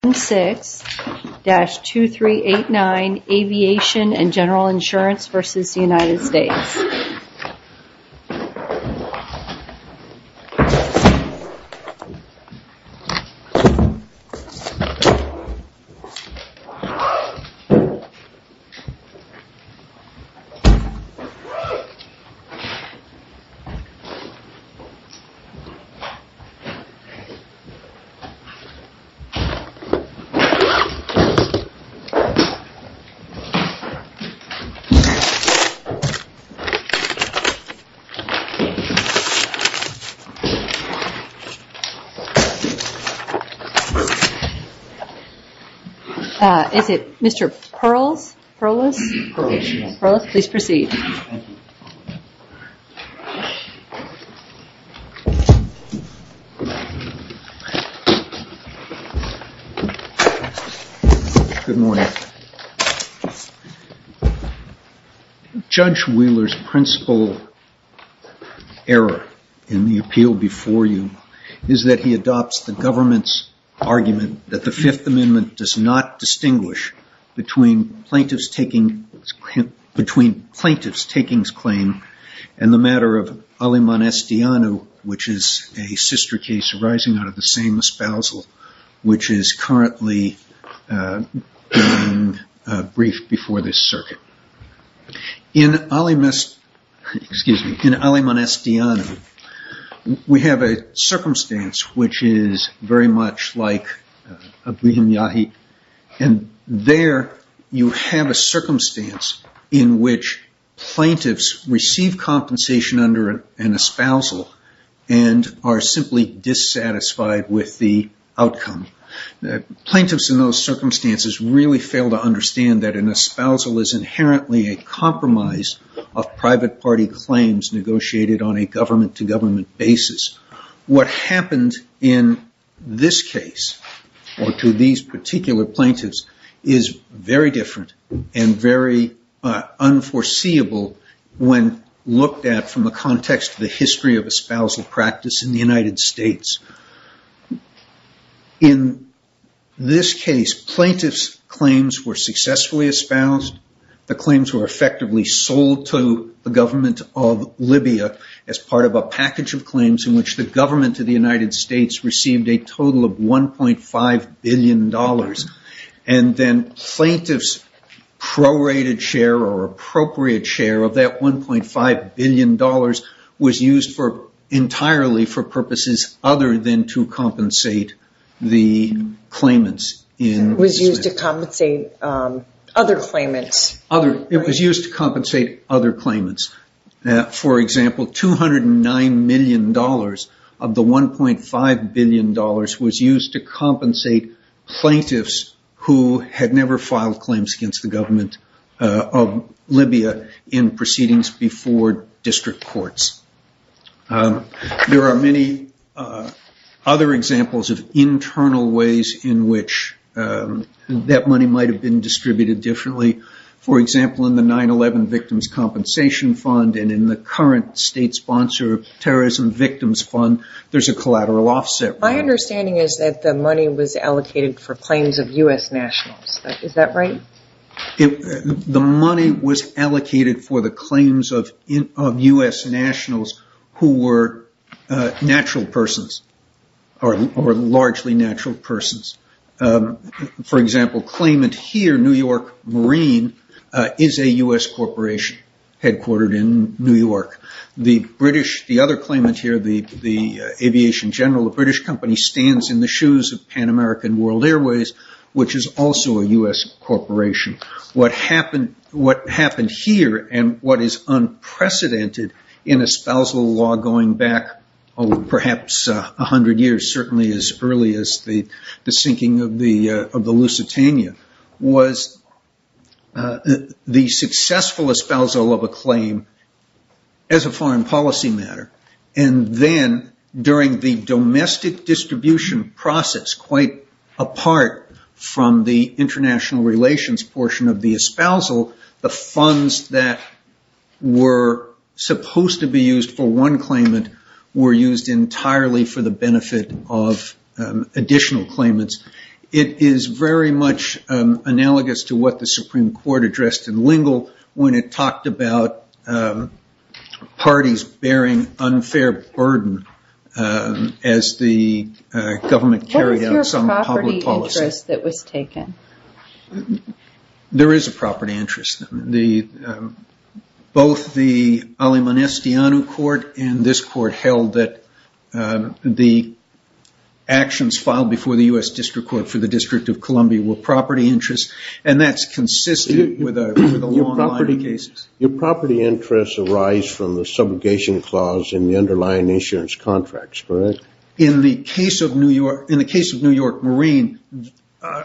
AVIATION & GENERAL INSURANCE v. United States Is it Mr. Perlis? Perlis, please proceed. Good morning. Judge Wheeler's principal error in the appeal before you is that he adopts the government's argument that the Fifth Amendment does not distinguish between plaintiff's takings claim and the matter of Alimon Estiano, which is a sister case arising out of the same espousal, which is currently being briefed before this circuit. In Alimon Estiano, we have a circumstance which is very much like Abihim Yahi, and there you have a circumstance in which plaintiffs receive compensation under an espousal and are simply dissatisfied with the outcome. Plaintiffs in those circumstances really fail to understand that an espousal is inherently a compromise of private party claims negotiated on a government-to-government basis. What happened in this case or to these particular plaintiffs is very different and very unforeseeable when looked at from the context of the history of espousal practice in the United States. In this case, plaintiffs' claims were successfully espoused. The claims were effectively sold to the government of Libya as part of a package of claims in which the government of the United States received a total of $1.5 billion. Then plaintiffs' prorated share or appropriate share of that $1.5 billion was used entirely for purposes other than to compensate the claimants. It was used to compensate other claimants. It was used to compensate other claimants. For example, $209 million of the $1.5 billion was used to compensate plaintiffs who had never filed claims against the government of Libya in proceedings before district courts. There are many other examples of internal ways in which that money might have been distributed differently. For example, in the 9-11 Victims' Compensation Fund and in the current state-sponsored Terrorism Victims Fund, there's a collateral offset. My understanding is that the money was allocated for claims of U.S. nationals. Is that right? The money was allocated for the claims of U.S. nationals who were natural persons or largely natural persons. For example, the claimant here, New York Marine, is a U.S. corporation headquartered in New York. The other claimant here, the Aviation General of a British company, stands in the shoes of Pan American World Airways, which is also a U.S. corporation. What happened here and what is unprecedented in espousal law going back perhaps 100 years, certainly as early as the sinking of the Lusitania, was the successful espousal of a claim as a foreign policy matter. During the domestic distribution process, quite apart from the international relations portion of the espousal, the funds that were supposed to be used for one claimant were used entirely for the benefit of additional claimants. It is very much analogous to what the Supreme Court addressed in Lingle when it talked about parties bearing unfair burden as the government carried out some public policy. What was your property interest that was taken? There is a property interest. Both the Alimon Estiano court and this court held that the actions filed before the U.S. District Court for the District of Columbia were property interests, and that's consistent with the long line of cases. Your property interests arise from the subjugation clause in the underlying insurance contracts, correct? In the case of New York Marine,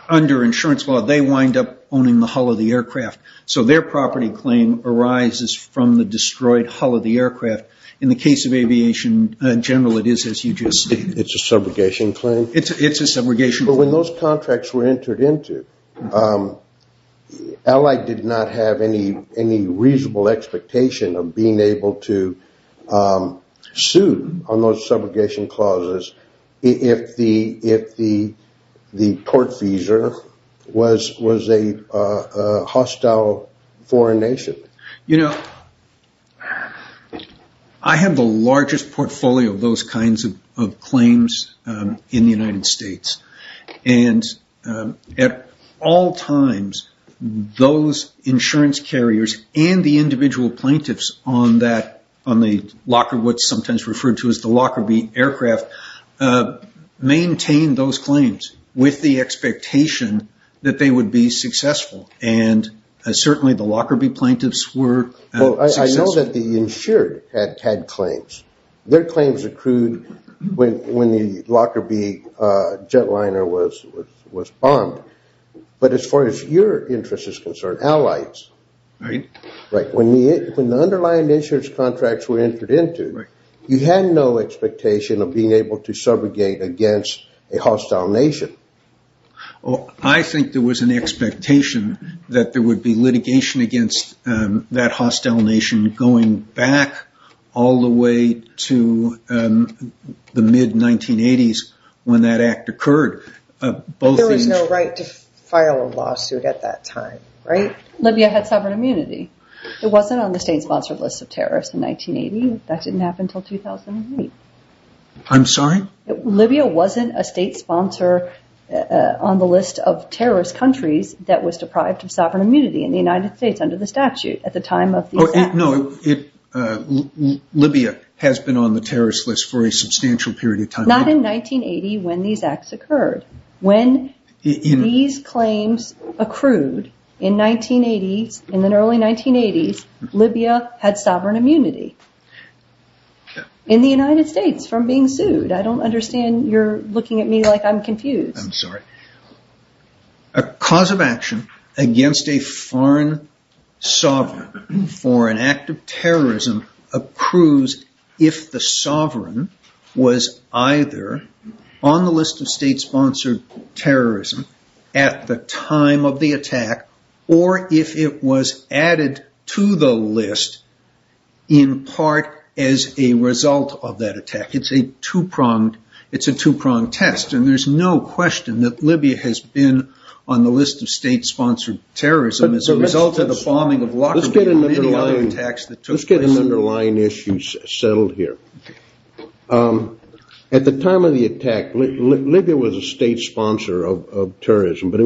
under insurance law, they wind up owning the hull of the aircraft, so their property claim arises from the destroyed hull of the aircraft. In the case of aviation in general, it is as you just stated. It's a subjugation claim? It's a subjugation claim. When those contracts were entered into, Allied did not have any reasonable expectation of being able to sue on those subjugation clauses if the tortfeasor was a hostile foreign nation. I have the largest portfolio of those kinds of claims in the United States. At all times, those insurance carriers and the individual plaintiffs on the Lockerbie aircraft maintained those claims with the expectation that they would be successful. Certainly, the Lockerbie plaintiffs were successful. I know that the insured had claims. Their claims accrued when the Lockerbie jetliner was bombed, but as far as your interest is concerned, Allies, when the underlying insurance contracts were entered into, you had no expectation of being able to subjugate against a hostile nation. I think there was an expectation that there would be litigation against that hostile nation going back all the way to the mid-1980s when that act occurred. There was no right to file a lawsuit at that time, right? Libya had sovereign immunity. It wasn't on the state-sponsored list of terrorists in 1980. That didn't happen until 2008. I'm sorry? Libya wasn't a state sponsor on the list of terrorist countries that was deprived of sovereign immunity in the United States under the statute at the time of the attack. No, Libya has been on the terrorist list for a substantial period of time. Not in 1980 when these acts occurred. When these claims accrued in the early 1980s, Libya had sovereign immunity in the United States from being sued. I don't understand. You're looking at me like I'm confused. I'm sorry. A cause of action against a foreign sovereign for an act of terrorism accrues if the sovereign was either on the list of state-sponsored terrorism at the time of the attack or if it was added to the list in part as a result of that attack. It's a two-pronged test. There's no question that Libya has been on the list of state-sponsored terrorism as a result of the bombing of Lockerbie and many other attacks that took place. Let's get an underlying issue settled here. At the time of the attack, Libya was a state sponsor of terrorism, but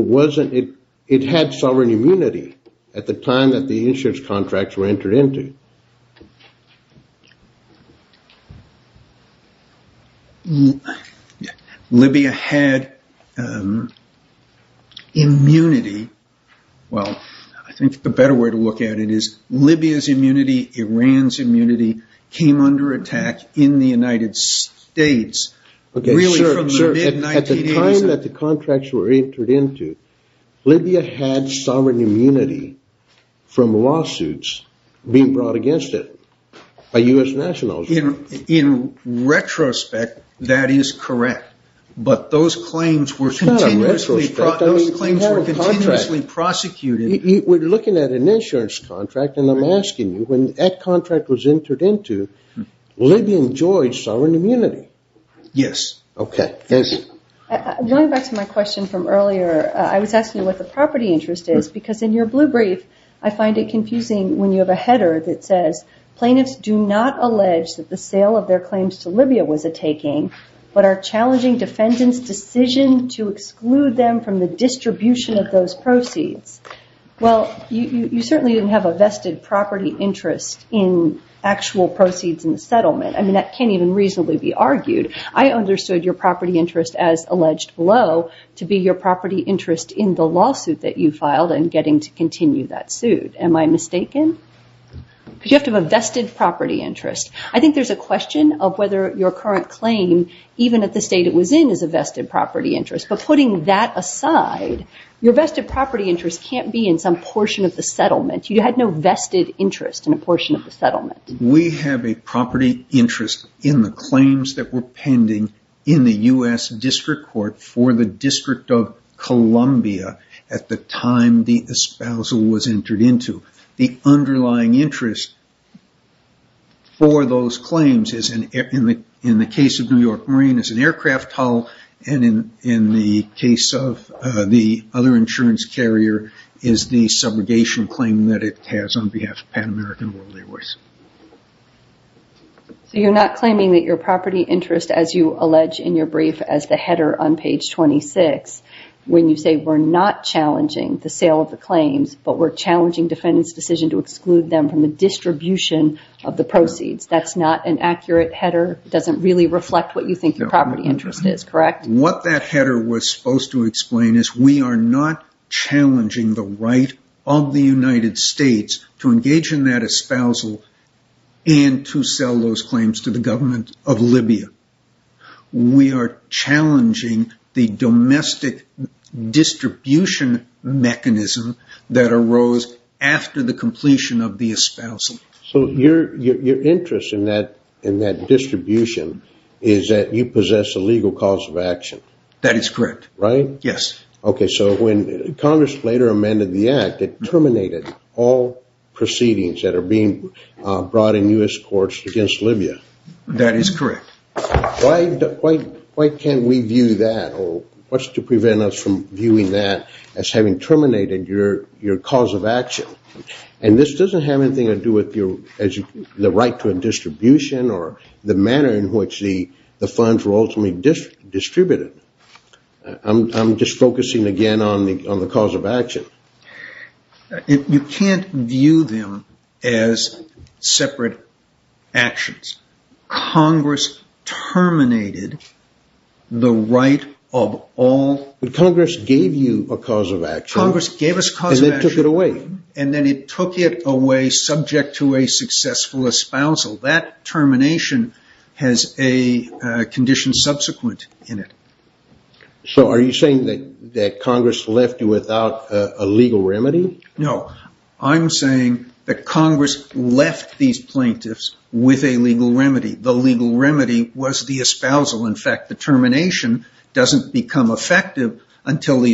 it had sovereign immunity at the time that the insurance contracts were entered into. Libya had immunity. Well, I think the better way to look at it is Libya's immunity, Iran's immunity came under attack in the United States really from the mid-1980s. At the time that the contracts were entered into, Libya had sovereign immunity from lawsuits being brought against it by U.S. nationals. In retrospect, that is correct, but those claims were continuously prosecuted. We're looking at an insurance contract, and I'm asking you, when that contract was entered into, Libya enjoyed sovereign immunity. Yes. Going back to my question from earlier, I was asking you what the property interest is, because in your blue brief, I find it confusing when you have a header that says, plaintiffs do not allege that the sale of their claims to Libya was a taking, but are challenging defendants' decision to exclude them from the distribution of those proceeds. Well, you certainly didn't have a vested property interest in actual proceeds in the settlement. I mean, that can't even reasonably be argued. I understood your property interest as alleged below to be your property interest in the lawsuit that you filed and getting to continue that suit. Am I mistaken? Because you have to have a vested property interest. I think there's a question of whether your current claim, even at the state it was in, is a vested property interest. But putting that aside, your vested property interest can't be in some portion of the settlement. We have a property interest in the claims that were pending in the U.S. District Court for the District of Columbia at the time the espousal was entered into. The underlying interest for those claims is, in the case of New York Marine, is an aircraft hull. And in the case of the other insurance carrier, is the subrogation claim that it has on behalf of Pan American World Airways. So you're not claiming that your property interest, as you allege in your brief as the header on page 26, when you say we're not challenging the sale of the claims, but we're challenging defendants' decision to exclude them from the distribution of the proceeds. That's not an accurate header? It doesn't really reflect what you think your property interest is, correct? What that header was supposed to explain is we are not challenging the right of the United States to engage in that espousal and to sell those claims to the government of Libya. We are challenging the domestic distribution mechanism that arose after the completion of the espousal. So your interest in that distribution is that you possess a legal cause of action? That is correct. Right? Yes. Okay, so when Congress later amended the act, it terminated all proceedings that are being brought in U.S. courts against Libya. That is correct. Why can't we view that, or what's to prevent us from viewing that as having terminated your cause of action? And this doesn't have anything to do with the right to a distribution or the manner in which the funds were ultimately distributed. I'm just focusing again on the cause of action. You can't view them as separate actions. Congress terminated the right of all... Congress gave you a cause of action. Congress gave us a cause of action. And then took it away. And then it took it away subject to a successful espousal. That termination has a condition subsequent in it. So are you saying that Congress left you without a legal remedy? No. I'm saying that Congress left these plaintiffs with a legal remedy. The legal remedy was the espousal. In fact, the termination doesn't become effective until the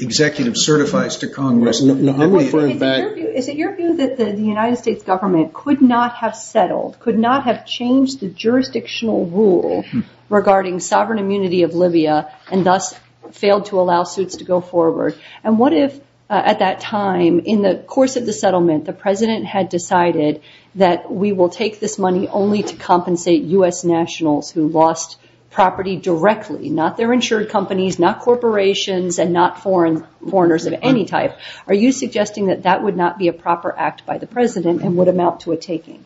executive certifies to Congress. Is it your view that the United States government could not have settled, could not have changed the jurisdictional rule regarding sovereign immunity of Libya, and thus failed to allow suits to go forward? And what if at that time, in the course of the settlement, the president had decided that we will take this money only to compensate U.S. nationals who lost property directly? Not their insured companies, not corporations, and not foreigners of any type. Are you suggesting that that would not be a proper act by the president and would amount to a taking?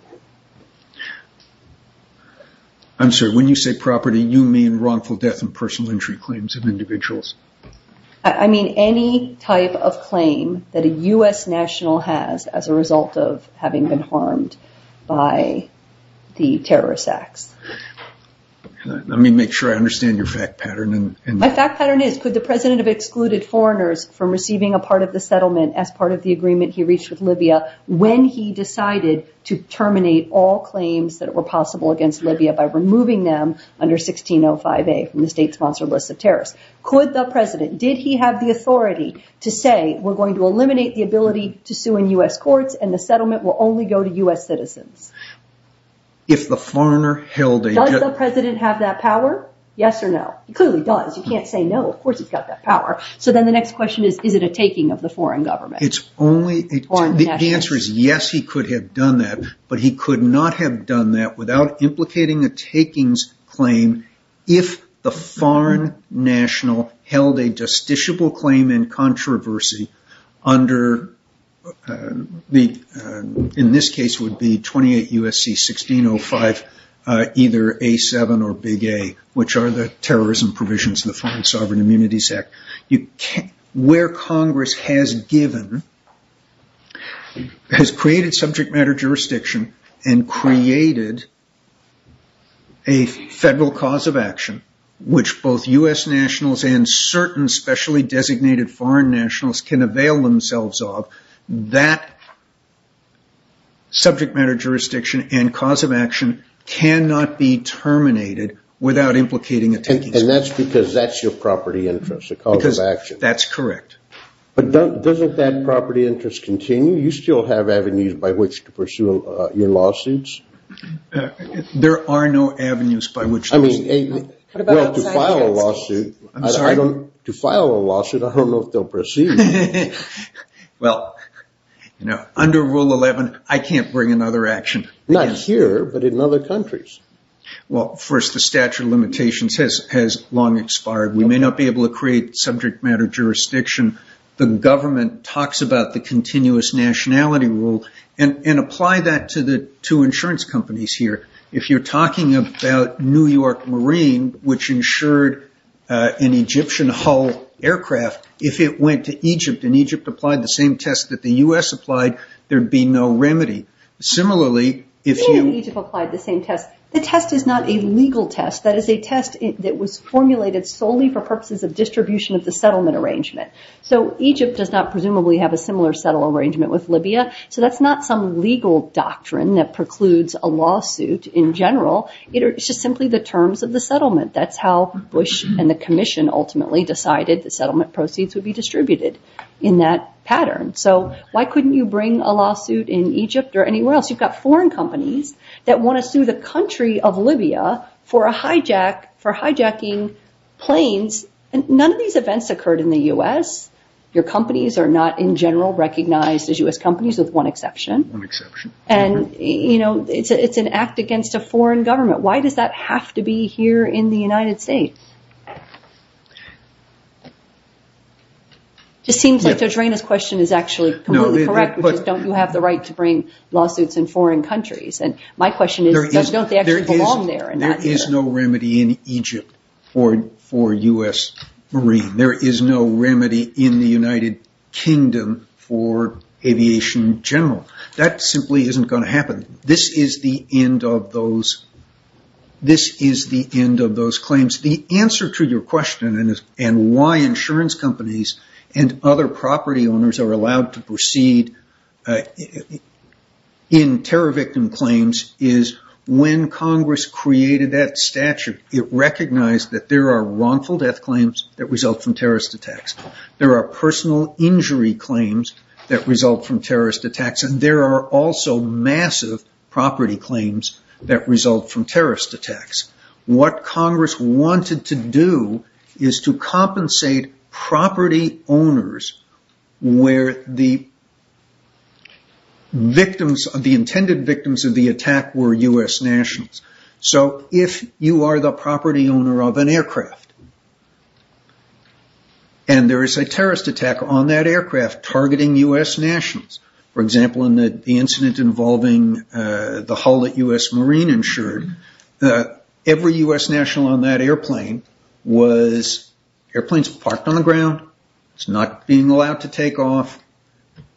I'm sorry. When you say property, you mean wrongful death and personal injury claims of individuals? I mean any type of claim that a U.S. national has as a result of having been harmed by the terrorist acts. Let me make sure I understand your fact pattern. My fact pattern is, could the president have excluded foreigners from receiving a part of the settlement as part of the agreement he reached with Libya when he decided to terminate all claims that were possible against Libya by removing them under 1605A from the state-sponsored list of terrorists? Could the president, did he have the authority to say, we're going to eliminate the ability to sue in U.S. courts, and the settlement will only go to U.S. citizens? Does the president have that power? Yes or no? He clearly does. You can't say no. Of course he's got that power. So then the next question is, is it a taking of the foreign government? The answer is yes, he could have done that, but he could not have done that without implicating a takings claim if the foreign national held a justiciable claim in controversy under, in this case it would be 28 U.S.C. 1605, either A7 or Big A, which are the terrorism provisions of the Foreign Sovereign Immunities Act. Where Congress has given, has created subject matter jurisdiction and created a federal cause of action, which both U.S. nationals and certain specially designated foreign nationals can avail themselves of, that subject matter jurisdiction and cause of action cannot be terminated without implicating a takings claim. And that's because that's your property interest, a cause of action. Because that's correct. But doesn't that property interest continue? You still have avenues by which to pursue your lawsuits. There are no avenues by which those. I mean, to file a lawsuit, I don't know if they'll proceed. Well, under Rule 11, I can't bring another action. Not here, but in other countries. Well, first, the statute of limitations has long expired. We may not be able to create subject matter jurisdiction. The government talks about the continuous nationality rule and apply that to insurance companies here. If you're talking about New York Marine, which insured an Egyptian Hull aircraft, if it went to Egypt and Egypt applied the same test that the U.S. applied, there'd be no remedy. Similarly, if you- If you and Egypt applied the same test, the test is not a legal test. That is a test that was formulated solely for purposes of distribution of the settlement arrangement. So Egypt does not presumably have a similar settlement arrangement with Libya. So that's not some legal doctrine that precludes a lawsuit in general. It's just simply the terms of the settlement. That's how Bush and the Commission ultimately decided that settlement proceeds would be distributed in that pattern. So why couldn't you bring a lawsuit in Egypt or anywhere else? You've got foreign companies that want to sue the country of Libya for hijacking planes. None of these events occurred in the U.S. Your companies are not in general recognized as U.S. companies with one exception. One exception. And, you know, it's an act against a foreign government. Why does that have to be here in the United States? It seems like Judge Reyna's question is actually completely correct, which is don't you have the right to bring lawsuits in foreign countries? And my question is, don't they actually belong there? There is no remedy in Egypt for U.S. Marines. There is no remedy in the United Kingdom for aviation in general. That simply isn't going to happen. This is the end of those claims. The answer to your question and why insurance companies and other property owners are allowed to proceed in terror victim claims is when Congress created that statute, it recognized that there are wrongful death claims that result from terrorist attacks. There are personal injury claims that result from terrorist attacks, and there are also massive property claims that result from terrorist attacks. What Congress wanted to do is to compensate property owners where the intended victims of the attack were U.S. nationals. So if you are the property owner of an aircraft and there is a terrorist attack on that aircraft targeting U.S. nationals, for example, in the incident involving the hull that U.S. Marines insured, every U.S. national on that airplane was parked on the ground. It's not being allowed to take off.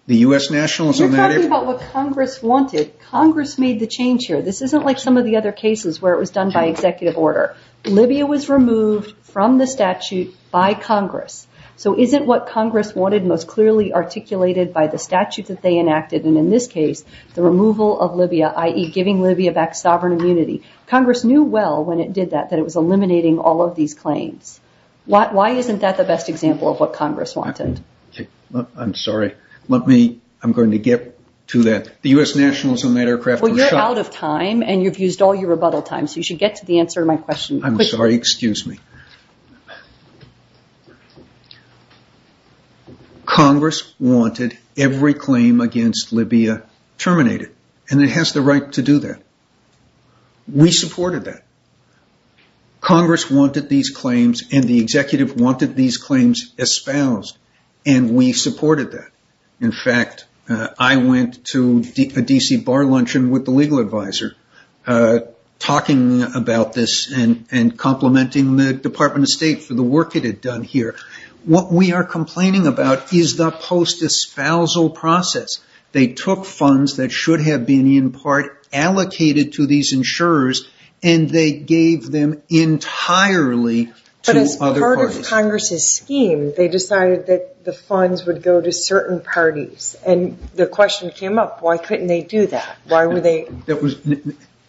The U.S. nationals on that airplane... You're talking about what Congress wanted. Congress made the change here. This isn't like some of the other cases where it was done by executive order. Libya was removed from the statute by Congress. So isn't what Congress wanted most clearly articulated by the statute that they enacted, and in this case, the removal of Libya, i.e., giving Libya back sovereign immunity. Congress knew well when it did that that it was eliminating all of these claims. Why isn't that the best example of what Congress wanted? I'm sorry. I'm going to get to that. The U.S. nationals on that aircraft were shot. Well, you're out of time, and you've used all your rebuttal time, so you should get to the answer to my question quickly. I'm sorry. Excuse me. Congress wanted every claim against Libya terminated, and it has the right to do that. We supported that. Congress wanted these claims, and the executive wanted these claims espoused, and we supported that. In fact, I went to a D.C. bar luncheon with the legal advisor talking about this and complimenting the Department of State for the work it had done here. What we are complaining about is the post-espousal process. They took funds that should have been in part allocated to these insurers, and they gave them entirely to other parties. But as part of Congress's scheme, they decided that the funds would go to certain parties, and the question came up, why couldn't they do that?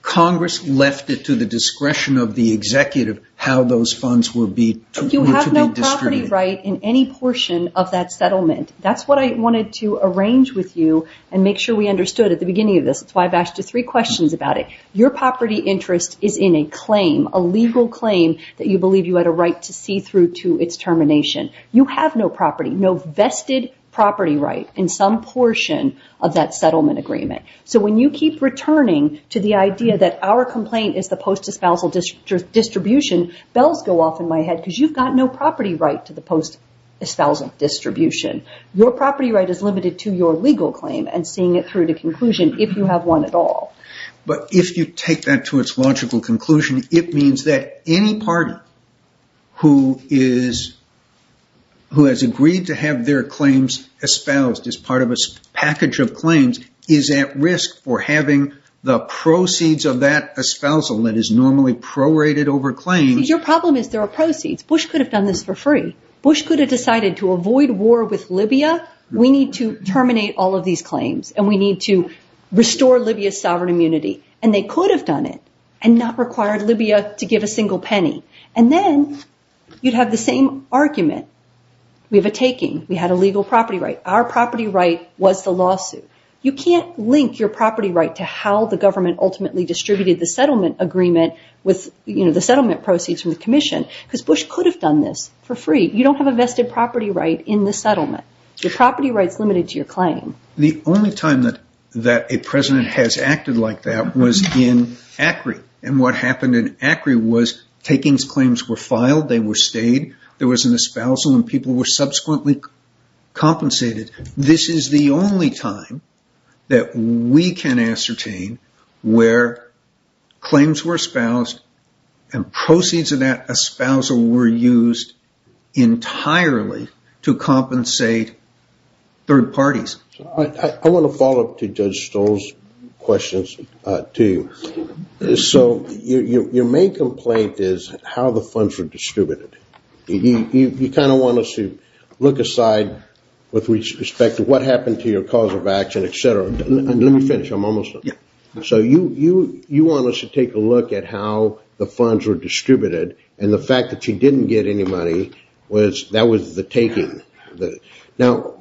Congress left it to the discretion of the executive how those funds were to be distributed. You have no property right in any portion of that settlement. That's what I wanted to arrange with you and make sure we understood at the beginning of this. That's why I've asked you three questions about it. Your property interest is in a claim, a legal claim, that you believe you had a right to see through to its termination. You have no property, no vested property right in some portion of that settlement agreement. So when you keep returning to the idea that our complaint is the post-espousal distribution, bells go off in my head because you've got no property right to the post-espousal distribution. Your property right is limited to your legal claim and seeing it through to conclusion, if you have one at all. But if you take that to its logical conclusion, it means that any party who has agreed to have their claims espoused as part of a package of claims is at risk for having the proceeds of that espousal that is normally prorated over claims. Your problem is there are proceeds. Bush could have done this for free. Bush could have decided to avoid war with Libya. We need to terminate all of these claims and we need to restore Libya's sovereign immunity. And they could have done it and not required Libya to give a single penny. And then you'd have the same argument. We have a taking. We had a legal property right. Our property right was the lawsuit. You can't link your property right to how the government ultimately distributed the settlement agreement with the settlement proceeds from the commission because Bush could have done this for free. You don't have a vested property right in the settlement. Your property right is limited to your claim. The only time that a president has acted like that was in ACRI. And what happened in ACRI was takings claims were filed. They were stayed. There was an espousal and people were subsequently compensated. This is the only time that we can ascertain where claims were espoused and proceeds of that espousal were used entirely to compensate third parties. I want to follow up to Judge Stoll's questions to you. So your main complaint is how the funds were distributed. You kind of want us to look aside with respect to what happened to your cause of action, et cetera. Let me finish. I'm almost done. So you want us to take a look at how the funds were distributed and the fact that you didn't get any money was that was the taking. Now,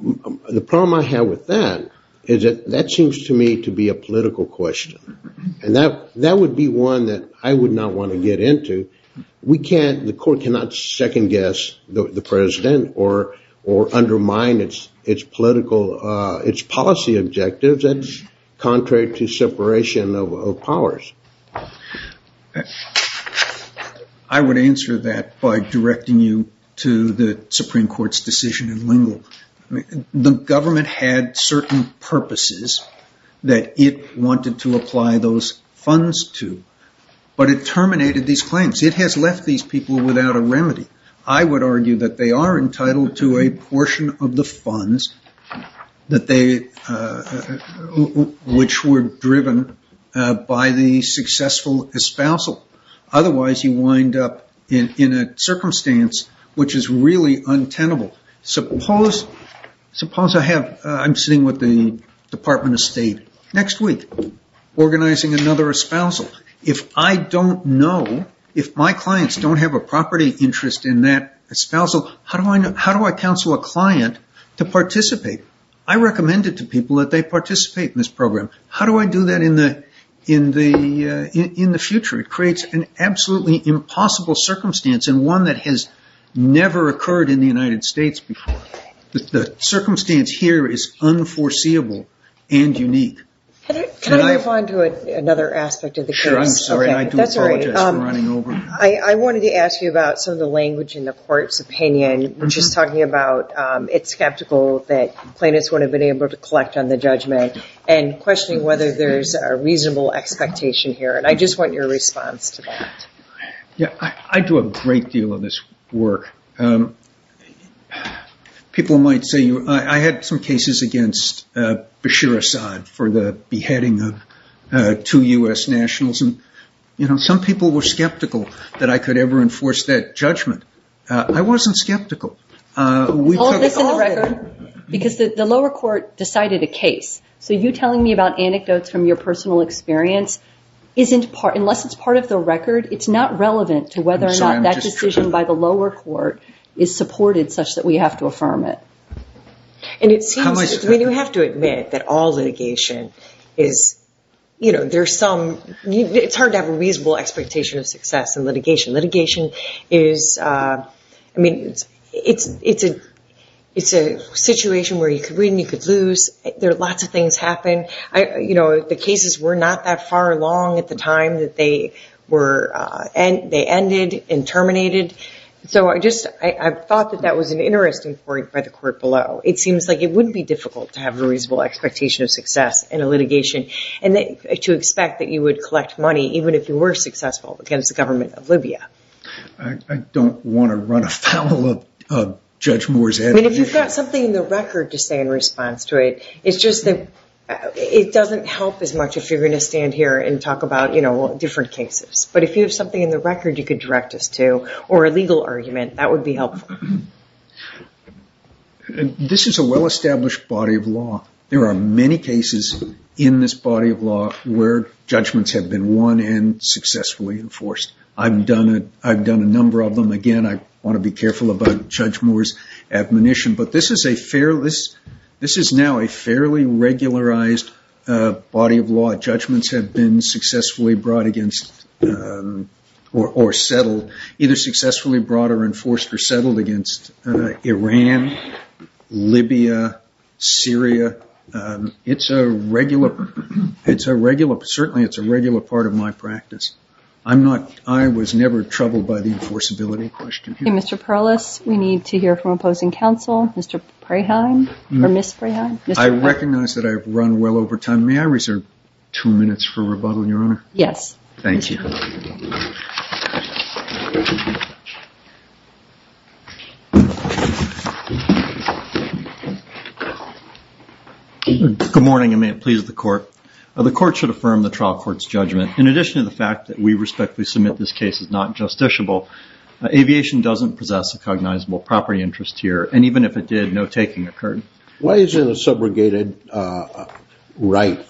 the problem I have with that is that that seems to me to be a political question. And that would be one that I would not want to get into. The court cannot second guess the president or undermine its policy objectives. That's contrary to separation of powers. I would answer that by directing you to the Supreme Court's decision in Lingle. The government had certain purposes that it wanted to apply those funds to. But it terminated these claims. It has left these people without a remedy. I would argue that they are entitled to a portion of the funds which were driven by the successful espousal. Otherwise, you wind up in a circumstance which is really untenable. Suppose I'm sitting with the Department of State next week organizing another espousal. If I don't know, if my clients don't have a property interest in that espousal, how do I counsel a client to participate? I recommend it to people that they participate in this program. How do I do that in the future? It creates an absolutely impossible circumstance and one that has never occurred in the United States before. The circumstance here is unforeseeable and unique. Can I move on to another aspect of the case? Sure, I'm sorry. I do apologize for running over. I wanted to ask you about some of the language in the court's opinion, which is talking about it's skeptical that plaintiffs would have been able to collect on the judgment and questioning whether there's a reasonable expectation here. I just want your response to that. I do a great deal of this work. People might say I had some cases against Bashir Assad for the beheading of two U.S. nationals. Some people were skeptical that I could ever enforce that judgment. I wasn't skeptical. All of this in the record because the lower court decided a case. So you telling me about anecdotes from your personal experience, unless it's part of the record, it's not relevant to whether or not that decision by the lower court is supported such that we have to affirm it. You have to admit that all litigation is, you know, there's some, it's hard to have a reasonable expectation of success in litigation. Litigation is, I mean, it's a situation where you could win, you could lose. There are lots of things happen. The cases were not that far along at the time that they ended and terminated. So I just thought that that was an interesting point by the court below. It seems like it wouldn't be difficult to have a reasonable expectation of success in a litigation and to expect that you would collect money even if you were successful against the government of Libya. I don't want to run afoul of Judge Moore's head. I mean, if you've got something in the record to say in response to it, it's just that it doesn't help as much if you're going to stand here and talk about, you know, different cases. But if you have something in the record you could direct us to or a legal argument, that would be helpful. This is a well-established body of law. There are many cases in this body of law where judgments have been won and successfully enforced. I've done a number of them. Again, I want to be careful about Judge Moore's admonition. But this is now a fairly regularized body of law. Judgments have been successfully brought against or settled, either successfully brought or enforced or settled against Iran, Libya, Syria. It's a regular, certainly it's a regular part of my practice. I was never troubled by the enforceability question. Mr. Perlis, we need to hear from opposing counsel. Mr. Preheim or Ms. Preheim. I recognize that I've run well over time. May I reserve two minutes for rebuttal, Your Honor? Yes. Thank you. Good morning, and may it please the Court. The Court should affirm the trial court's judgment. In addition to the fact that we respectfully submit this case is not justiciable, aviation doesn't possess a cognizable property interest here. And even if it did, no taking occurred. Why isn't a subrogated right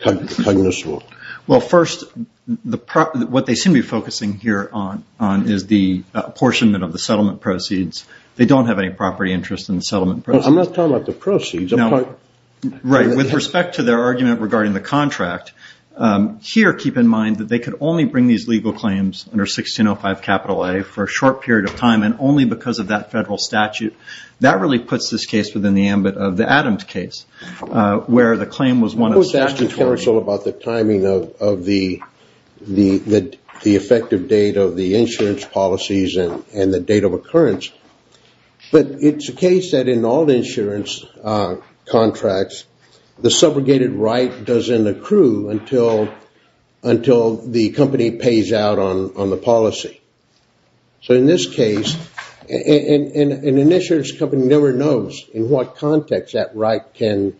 cognizable? Well, first, what they seem to be focusing here on is the apportionment of the settlement proceeds. They don't have any property interest in the settlement proceeds. I'm not talking about the proceeds. Right. With respect to their argument regarding the contract, here keep in mind that they could only bring these legal claims under 1605 capital A for a short period of time and only because of that federal statute. That really puts this case within the ambit of the Adams case, where the claim was one of the statute. I was asking counsel about the timing of the effective date of the insurance policies and the date of occurrence. But it's the case that in all the insurance contracts, the subrogated right doesn't accrue until the company pays out on the policy. So in this case, an insurance company never knows in what context that right can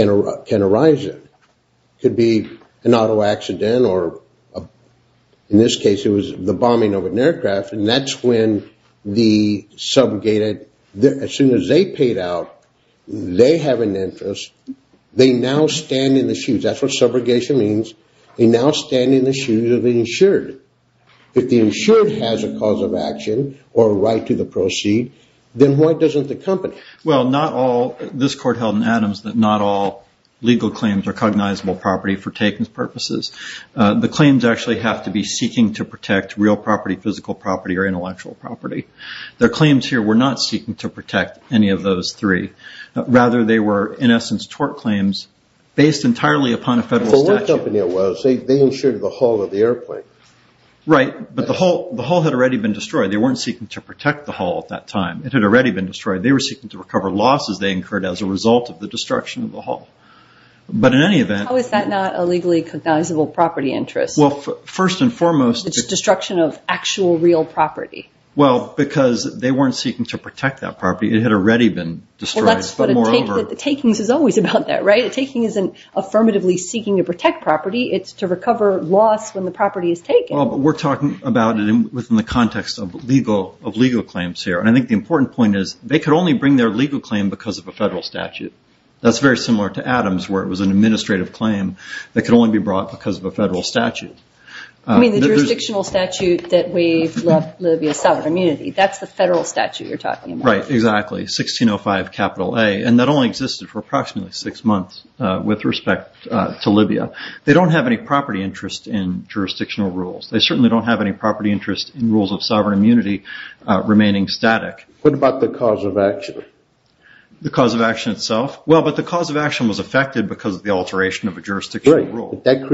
arise in. It could be an auto accident or, in this case, it was the bombing of an aircraft, and that's when the subrogated, as soon as they paid out, they have an interest. They now stand in the shoes. That's what subrogation means. They now stand in the shoes of the insured. If the insured has a cause of action or a right to the proceed, then why doesn't the company? Well, this court held in Adams that not all legal claims are cognizable property for takings purposes. The claims actually have to be seeking to protect real property, physical property, or intellectual property. Their claims here were not seeking to protect any of those three. Rather, they were, in essence, tort claims based entirely upon a federal statute. So one company it was, they insured the hull of the airplane. Right, but the hull had already been destroyed. They weren't seeking to protect the hull at that time. It had already been destroyed. They were seeking to recover losses they incurred as a result of the destruction of the hull. How is that not a legally cognizable property interest? Well, first and foremost— It's destruction of actual real property. Well, because they weren't seeking to protect that property. It had already been destroyed. But the takings is always about that, right? A taking isn't affirmatively seeking to protect property. It's to recover loss when the property is taken. Well, but we're talking about it within the context of legal claims here. And I think the important point is they could only bring their legal claim because of a federal statute. That's very similar to Adams where it was an administrative claim that could only be brought because of a federal statute. You mean the jurisdictional statute that waived Libya's sovereign immunity. That's the federal statute you're talking about. Right, exactly, 1605 capital A. And that only existed for approximately six months with respect to Libya. They don't have any property interest in jurisdictional rules. They certainly don't have any property interest in rules of sovereign immunity remaining static. What about the cause of action? The cause of action itself? Well, but the cause of action was affected because of the alteration of a jurisdictional rule. Right, but that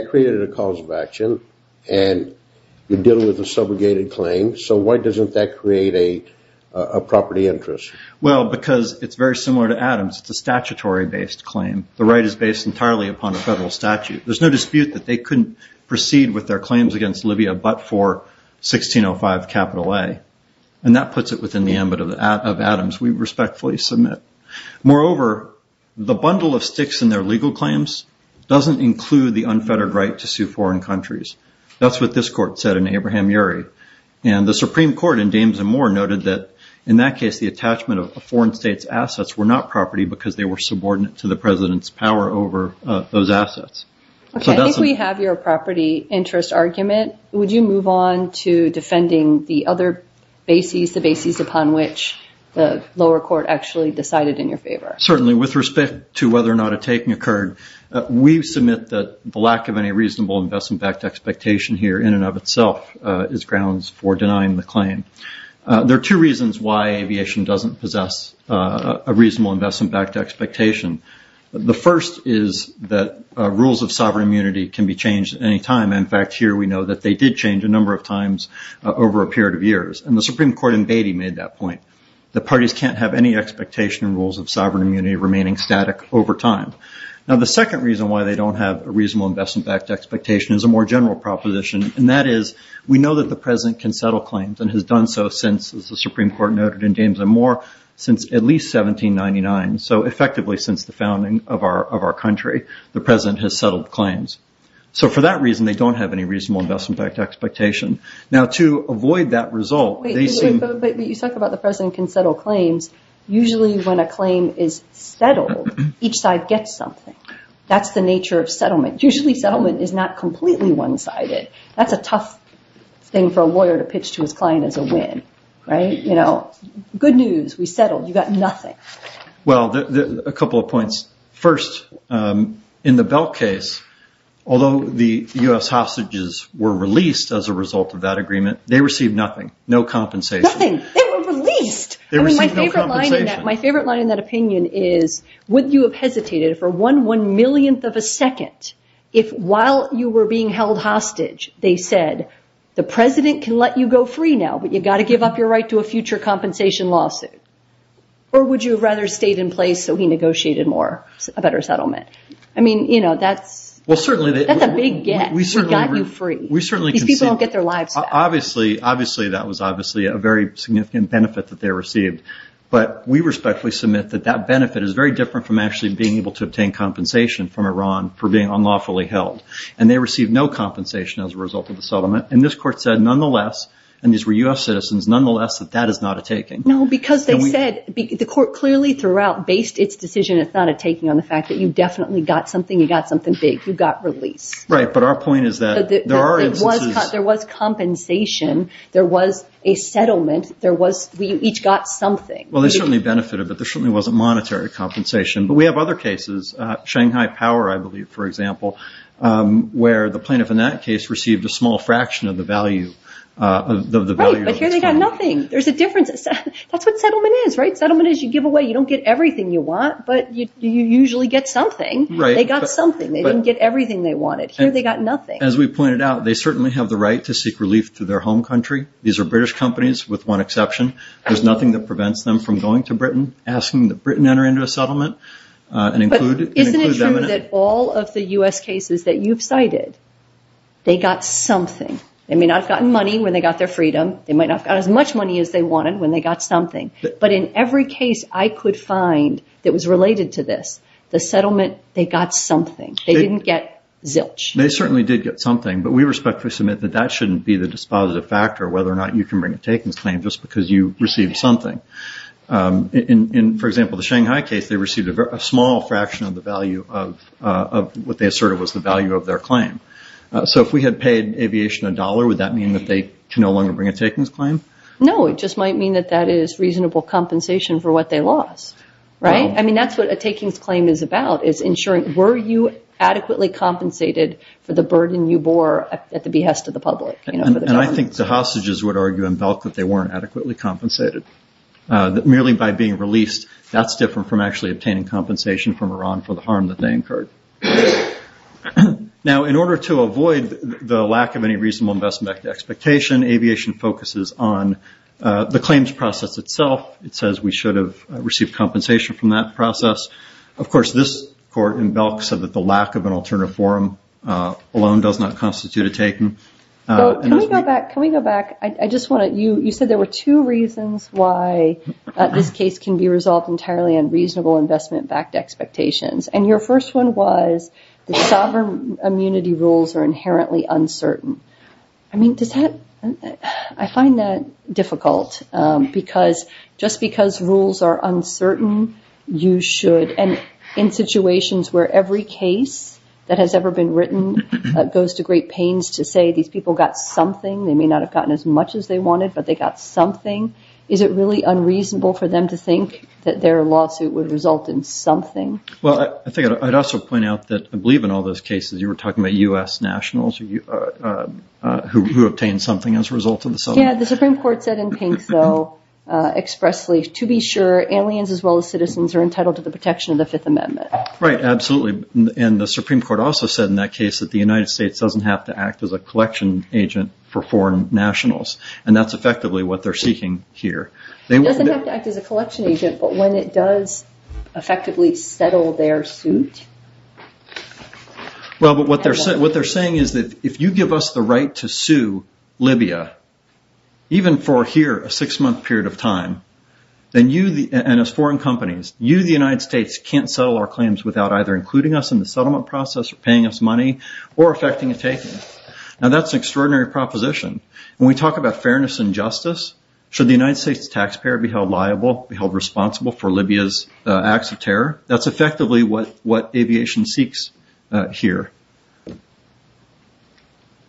created a cause of action. And you're dealing with a subrogated claim. So why doesn't that create a property interest? Well, because it's very similar to Adams. It's a statutory-based claim. The right is based entirely upon a federal statute. There's no dispute that they couldn't proceed with their claims against Libya but for 1605 capital A. And that puts it within the ambit of Adams. We respectfully submit. Moreover, the bundle of sticks in their legal claims doesn't include the unfettered right to sue foreign countries. That's what this court said in Abraham-Urey. And the Supreme Court in Dames and Moore noted that, in that case, the attachment of foreign states' assets were not property because they were subordinate to the president's power over those assets. Okay, I think we have your property interest argument. Would you move on to defending the other bases, the bases upon which the lower court actually decided in your favor? Certainly. With respect to whether or not a taking occurred, we submit that the lack of any reasonable investment-backed expectation here in and of itself is grounds for denying the claim. There are two reasons why aviation doesn't possess a reasonable investment-backed expectation. The first is that rules of sovereign immunity can be changed at any time. In fact, here we know that they did change a number of times over a period of years. And the Supreme Court in Beatty made that point. The parties can't have any expectation rules of sovereign immunity remaining static over time. Now, the second reason why they don't have a reasonable investment-backed expectation is a more general proposition, and that is we know that the president can settle claims and has done so since, as the Supreme Court noted in Dames and Moore, since at least 1799, so effectively since the founding of our country. The president has settled claims. So for that reason, they don't have any reasonable investment-backed expectation. Now, to avoid that result, they seem… But you talk about the president can settle claims. Usually when a claim is settled, each side gets something. That's the nature of settlement. Usually settlement is not completely one-sided. That's a tough thing for a lawyer to pitch to his client as a win, right? You know, good news. We settled. You got nothing. Well, a couple of points. First, in the Belk case, although the U.S. hostages were released as a result of that agreement, they received nothing, no compensation. Nothing. They were released. They received no compensation. My favorite line in that opinion is, would you have hesitated for one one-millionth of a second if, while you were being held hostage, they said, the president can let you go free now, but you've got to give up your right to a future compensation lawsuit? Or would you have rather stayed in place so he negotiated a better settlement? I mean, you know, that's a big get. We got you free. These people don't get their lives back. Obviously, that was obviously a very significant benefit that they received. But we respectfully submit that that benefit is very different from actually being able to obtain compensation from Iran for being unlawfully held. And they received no compensation as a result of the settlement. And this court said, nonetheless, and these were U.S. citizens, nonetheless, that that is not a taking. No, because they said, the court clearly throughout based its decision, it's not a taking, on the fact that you definitely got something. You got something big. You got release. Right. But our point is that there are instances. There was compensation. There was a settlement. We each got something. Well, they certainly benefited, but there certainly wasn't monetary compensation. But we have other cases, Shanghai Power, I believe, for example, where the plaintiff in that case received a small fraction of the value. Right. But here they got nothing. There's a difference. That's what settlement is, right? Settlement is you give away. You don't get everything you want, but you usually get something. Right. They got something. They didn't get everything they wanted. Here they got nothing. As we pointed out, they certainly have the right to seek relief through their home country. These are British companies with one exception. There's nothing that prevents them from going to Britain, asking that Britain enter into a settlement and include them in it. But isn't it true that all of the U.S. cases that you've cited, they got something. They may not have gotten money when they got their freedom. They might not have gotten as much money as they wanted when they got something. But in every case I could find that was related to this, the settlement, they got something. They didn't get zilch. They certainly did get something, but we respectfully submit that that shouldn't be the dispositive factor, whether or not you can bring a takings claim just because you received something. For example, the Shanghai case, they received a small fraction of the value of what they asserted was the value of their claim. So if we had paid aviation a dollar, would that mean that they can no longer bring a takings claim? No, it just might mean that that is reasonable compensation for what they lost. Right? I mean, that's what a takings claim is about, is ensuring were you adequately compensated for the burden you bore at the behest of the public. And I think the hostages would argue and felt that they weren't adequately compensated. Merely by being released, that's different from actually obtaining compensation from Iran for the harm that they incurred. Now, in order to avoid the lack of any reasonable investment expectation, aviation focuses on the claims process itself. It says we should have received compensation from that process. Of course, this court in Belk said that the lack of an alternative forum alone does not constitute a taking. Can we go back? You said there were two reasons why this case can be resolved entirely on reasonable investment-backed expectations. And your first one was that sovereign immunity rules are inherently uncertain. I mean, does that – I find that difficult because just because rules are uncertain, you should – and in situations where every case that has ever been written goes to great pains to say these people got something. They may not have gotten as much as they wanted, but they got something. Is it really unreasonable for them to think that their lawsuit would result in something? Well, I think I'd also point out that I believe in all those cases you were talking about U.S. nationals who obtained something as a result of the settlement. Yeah, the Supreme Court said in pink, though, expressly, to be sure, aliens as well as citizens are entitled to the protection of the Fifth Amendment. Right, absolutely. And the Supreme Court also said in that case that the United States doesn't have to act as a collection agent for foreign nationals. And that's effectively what they're seeking here. It doesn't have to act as a collection agent, but when it does effectively settle their suit – Well, but what they're saying is that if you give us the right to sue Libya, even for here, a six-month period of time, and as foreign companies, you, the United States, can't settle our claims without either including us in the settlement process or paying us money or effecting a taking. Now, that's an extraordinary proposition. When we talk about fairness and justice, should the United States taxpayer be held liable, be held responsible for Libya's acts of terror? That's effectively what aviation seeks here.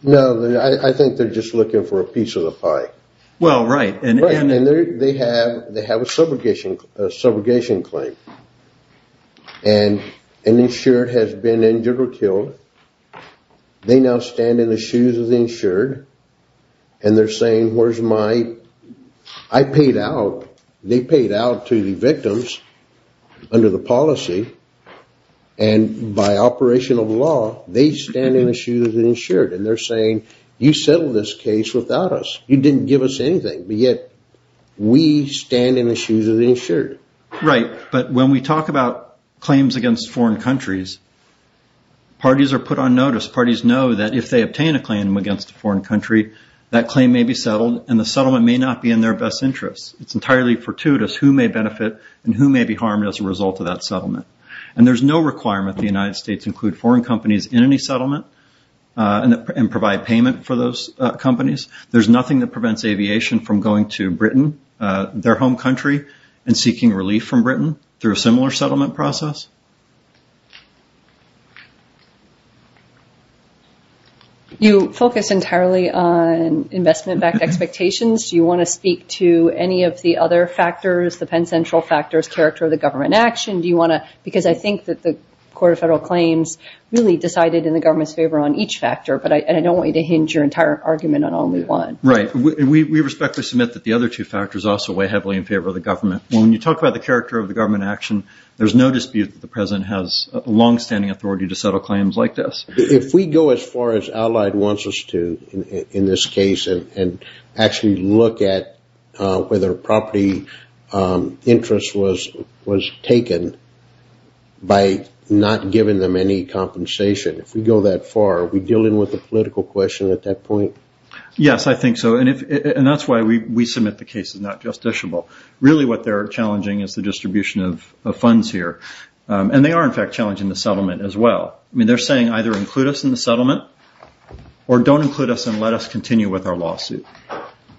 No, I think they're just looking for a piece of the pie. Well, right. And they have a subrogation claim. And an insured has been injured or killed. They now stand in the shoes of the insured. And they're saying, where's my – I paid out. They paid out to the victims under the policy. And by operation of law, they stand in the shoes of the insured. And they're saying, you settled this case without us. You didn't give us anything. But yet, we stand in the shoes of the insured. Right. But when we talk about claims against foreign countries, parties are put on notice. Parties know that if they obtain a claim against a foreign country, that claim may be settled, and the settlement may not be in their best interest. It's entirely fortuitous who may benefit and who may be harmed as a result of that settlement. And there's no requirement the United States include foreign companies in any settlement and provide payment for those companies. There's nothing that prevents aviation from going to Britain, their home country, and seeking relief from Britain through a similar settlement process. You focus entirely on investment-backed expectations. Do you want to speak to any of the other factors, the Penn Central factors, character of the government action? Do you want to – because I think that the Court of Federal Claims really decided in the government's favor on each factor. But I don't want you to hinge your entire argument on only one. Right. We respectfully submit that the other two factors also weigh heavily in favor of the government. When you talk about the character of the government action, there's no dispute that the president has longstanding authority to settle claims like this. If we go as far as Allied wants us to in this case and actually look at whether property interest was taken by not giving them any compensation, if we go that far, are we dealing with a political question at that point? Yes, I think so. And that's why we submit the case is not justiciable. Really what they're challenging is the distribution of funds here. And they are, in fact, challenging the settlement as well. I mean, they're saying either include us in the settlement or don't include us and let us continue with our lawsuit.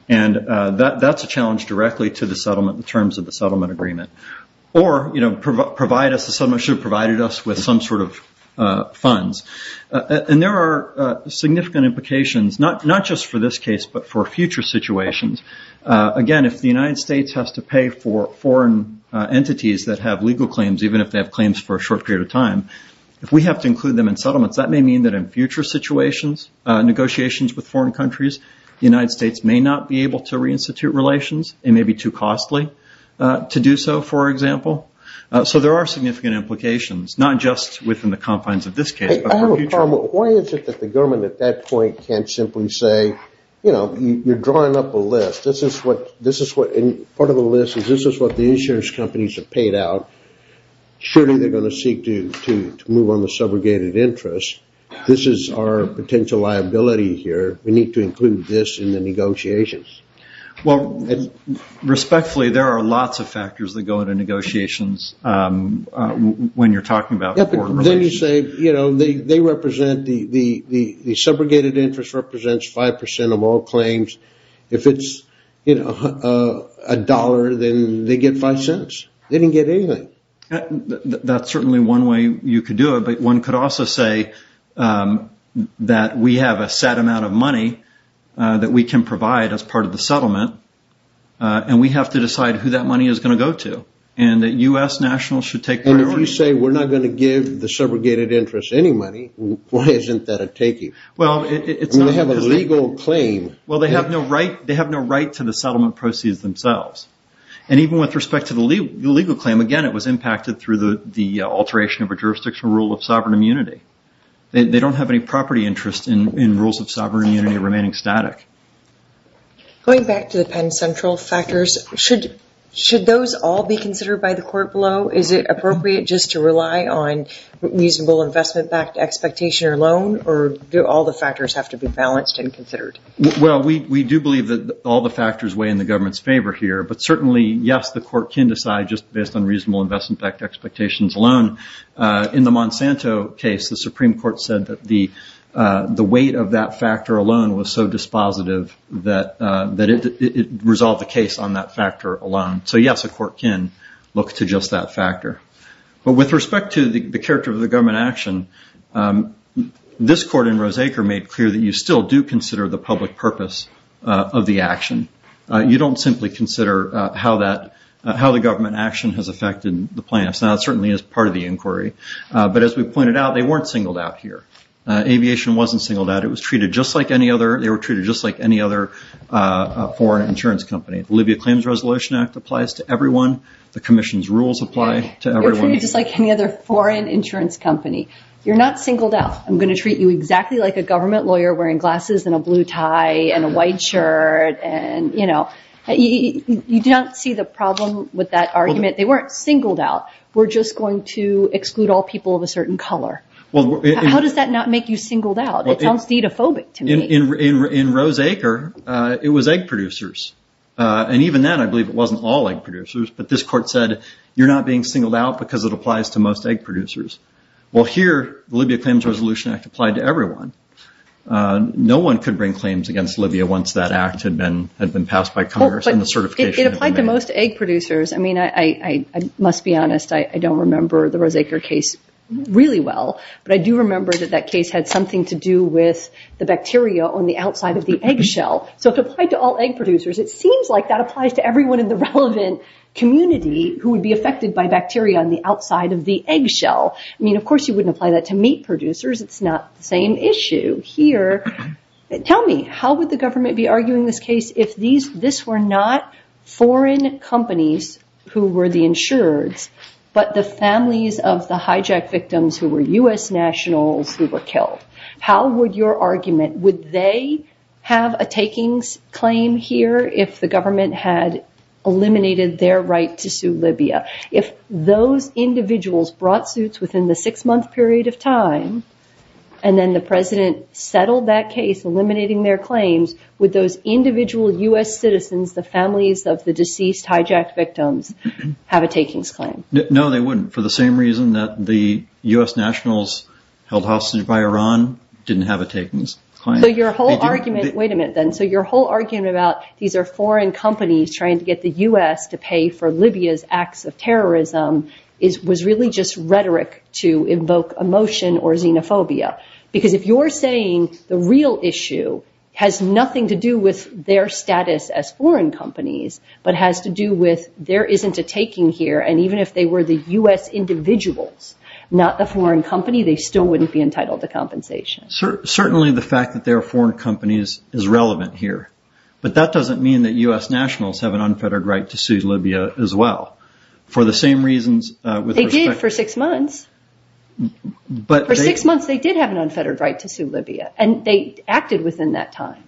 And that's a challenge directly to the settlement in terms of the settlement agreement. Or provide us, the settlement should have provided us with some sort of funds. And there are significant implications, not just for this case, but for future situations. Again, if the United States has to pay for foreign entities that have legal claims, even if they have claims for a short period of time, if we have to include them in settlements, that may mean that in future situations, negotiations with foreign countries, the United States may not be able to reinstitute relations. It may be too costly to do so, for example. So there are significant implications, not just within the confines of this case, but for future. I have a problem. Why is it that the government at that point can't simply say, you know, you're drawing up a list. Part of the list is this is what the insurance companies have paid out. Surely they're going to seek to move on the subrogated interest. This is our potential liability here. We need to include this in the negotiations. Well, respectfully, there are lots of factors that go into negotiations when you're talking about foreign relations. Then you say, you know, they represent the subrogated interest represents 5% of all claims. If it's, you know, a dollar, then they get five cents. They didn't get anything. That's certainly one way you could do it. But one could also say that we have a set amount of money that we can provide as part of the settlement. And we have to decide who that money is going to go to. And that U.S. nationals should take. You say we're not going to give the subrogated interest any money. Why isn't that a taking? Well, it's not a legal claim. Well, they have no right. They have no right to the settlement proceeds themselves. And even with respect to the legal claim, again, it was impacted through the alteration of a jurisdictional rule of sovereign immunity. They don't have any property interest in rules of sovereign immunity remaining static. Going back to the Penn Central factors, should those all be considered by the court below? Is it appropriate just to rely on reasonable investment-backed expectation or loan? Or do all the factors have to be balanced and considered? Well, we do believe that all the factors weigh in the government's favor here. But certainly, yes, the court can decide just based on reasonable investment-backed expectations alone. In the Monsanto case, the Supreme Court said that the weight of that factor alone was so dispositive that it resolved the case on that factor alone. So, yes, a court can look to just that factor. But with respect to the character of the government action, this court in Roseacre made clear that you still do consider the public purpose of the action. You don't simply consider how the government action has affected the plans. Now, that certainly is part of the inquiry. But as we pointed out, they weren't singled out here. Aviation wasn't singled out. It was treated just like any other – they were treated just like any other foreign insurance company. The Libya Claims Resolution Act applies to everyone. The commission's rules apply to everyone. You're treated just like any other foreign insurance company. You're not singled out. I'm going to treat you exactly like a government lawyer wearing glasses and a blue tie and a white shirt. And, you know, you don't see the problem with that argument. They weren't singled out. We're just going to exclude all people of a certain color. How does that not make you singled out? It sounds dideophobic to me. In Roseacre, it was egg producers. And even then, I believe it wasn't all egg producers. But this court said, you're not being singled out because it applies to most egg producers. Well, here, the Libya Claims Resolution Act applied to everyone. No one could bring claims against Libya once that act had been passed by Congress and the certification had been made. It applied to most egg producers. I mean, I must be honest, I don't remember the Roseacre case really well. But I do remember that that case had something to do with the bacteria on the outside of the egg shell. So if it applied to all egg producers, it seems like that applies to everyone in the relevant community who would be affected by bacteria on the outside of the egg shell. I mean, of course you wouldn't apply that to meat producers. It's not the same issue here. Tell me, how would the government be arguing this case if this were not foreign companies who were the insureds, but the families of the hijacked victims who were U.S. nationals who were killed? How would your argument, would they have a takings claim here if the government had eliminated their right to sue Libya? If those individuals brought suits within the six-month period of time, and then the president settled that case, eliminating their claims, would those individual U.S. citizens, the families of the deceased hijacked victims, have a takings claim? No, they wouldn't, for the same reason that the U.S. nationals held hostage by Iran didn't have a takings claim. Wait a minute then. So your whole argument about these are foreign companies trying to get the U.S. to pay for Libya's acts of terrorism was really just rhetoric to invoke emotion or xenophobia. Because if you're saying the real issue has nothing to do with their status as foreign companies, but has to do with there isn't a taking here, and even if they were the U.S. individuals, not a foreign company, they still wouldn't be entitled to compensation. Certainly the fact that they are foreign companies is relevant here. But that doesn't mean that U.S. nationals have an unfettered right to sue Libya as well. They did for six months. For six months they did have an unfettered right to sue Libya, and they acted within that time.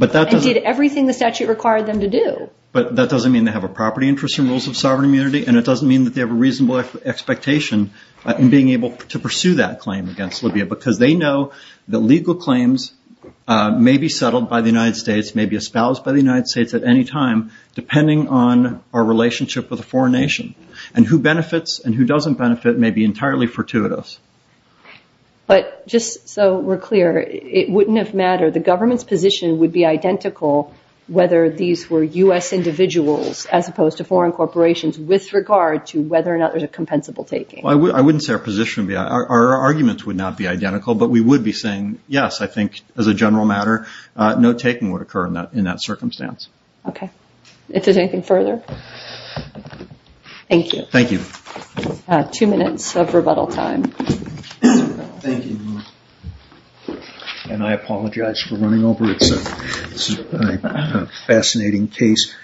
And did everything the statute required them to do. But that doesn't mean they have a property interest in rules of sovereign immunity, and it doesn't mean that they have a reasonable expectation in being able to pursue that claim against Libya, because they know that legal claims may be settled by the United States, may be espoused by the United States at any time, depending on our relationship with a foreign nation. And who benefits and who doesn't benefit may be entirely fortuitous. But just so we're clear, it wouldn't have mattered. The government's position would be identical whether these were U.S. individuals, as opposed to foreign corporations, with regard to whether or not there's a compensable taking. I wouldn't say our position would be identical. Our arguments would not be identical, but we would be saying, yes, I think as a general matter, no taking would occur in that circumstance. Okay. Is there anything further? Thank you. Thank you. Two minutes of rebuttal time. Thank you. And I apologize for running over. It's a fascinating case.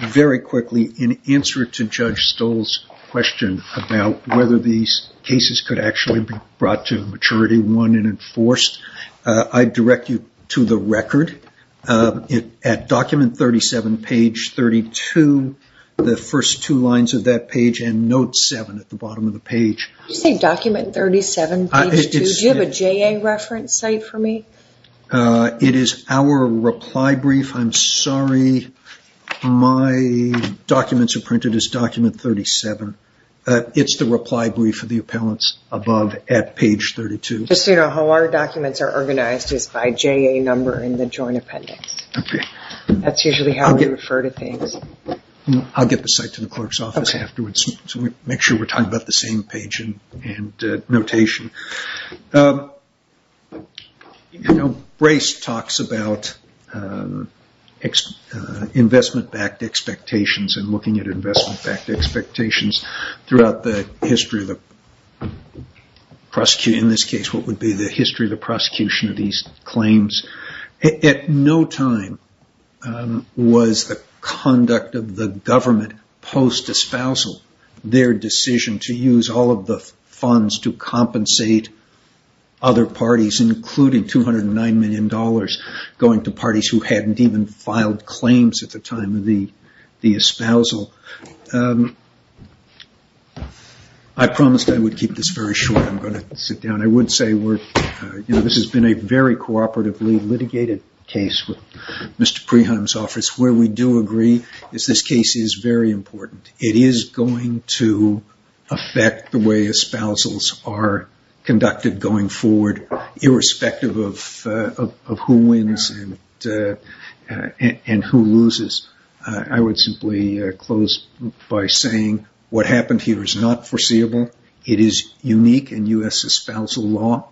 Very quickly, in answer to Judge Stoll's question about whether these cases could actually be brought to maturity, won and enforced, I direct you to the record. At document 37, page 32, the first two lines of that page and note 7 at the bottom of the page. Did you say document 37, page 2? Do you have a JA reference site for me? It is our reply brief. I'm sorry. My documents are printed as document 37. It's the reply brief of the appellants above at page 32. Just so you know, how our documents are organized is by JA number in the joint appendix. That's usually how we refer to things. I'll get the site to the clerk's office afterwards to make sure we're talking about the same page and notation. Brace talks about investment-backed expectations and looking at investment-backed expectations throughout the history of the prosecution. In this case, what would be the history of the prosecution of these claims? At no time was the conduct of the government post-espousal their decision to use all of the funds to compensate other parties, including $209 million going to parties who hadn't even filed claims at the time of the espousal. I promised I would keep this very short. I'm going to sit down. I would say this has been a very cooperatively litigated case with Mr. Preheim's office. Where we do agree is this case is very important. It is going to affect the way espousals are conducted going forward, irrespective of who wins and who loses. I would simply close by saying what happened here is not foreseeable. It is unique in U.S. espousal law.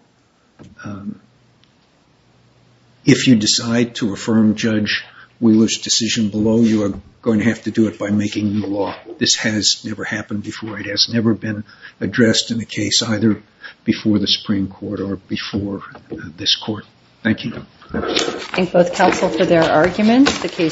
If you decide to affirm Judge Wheeler's decision below, you are going to have to do it by making new law. This has never happened before. It has never been addressed in a case either before the Supreme Court or before this Court. Thank you. I thank both counsel for their arguments.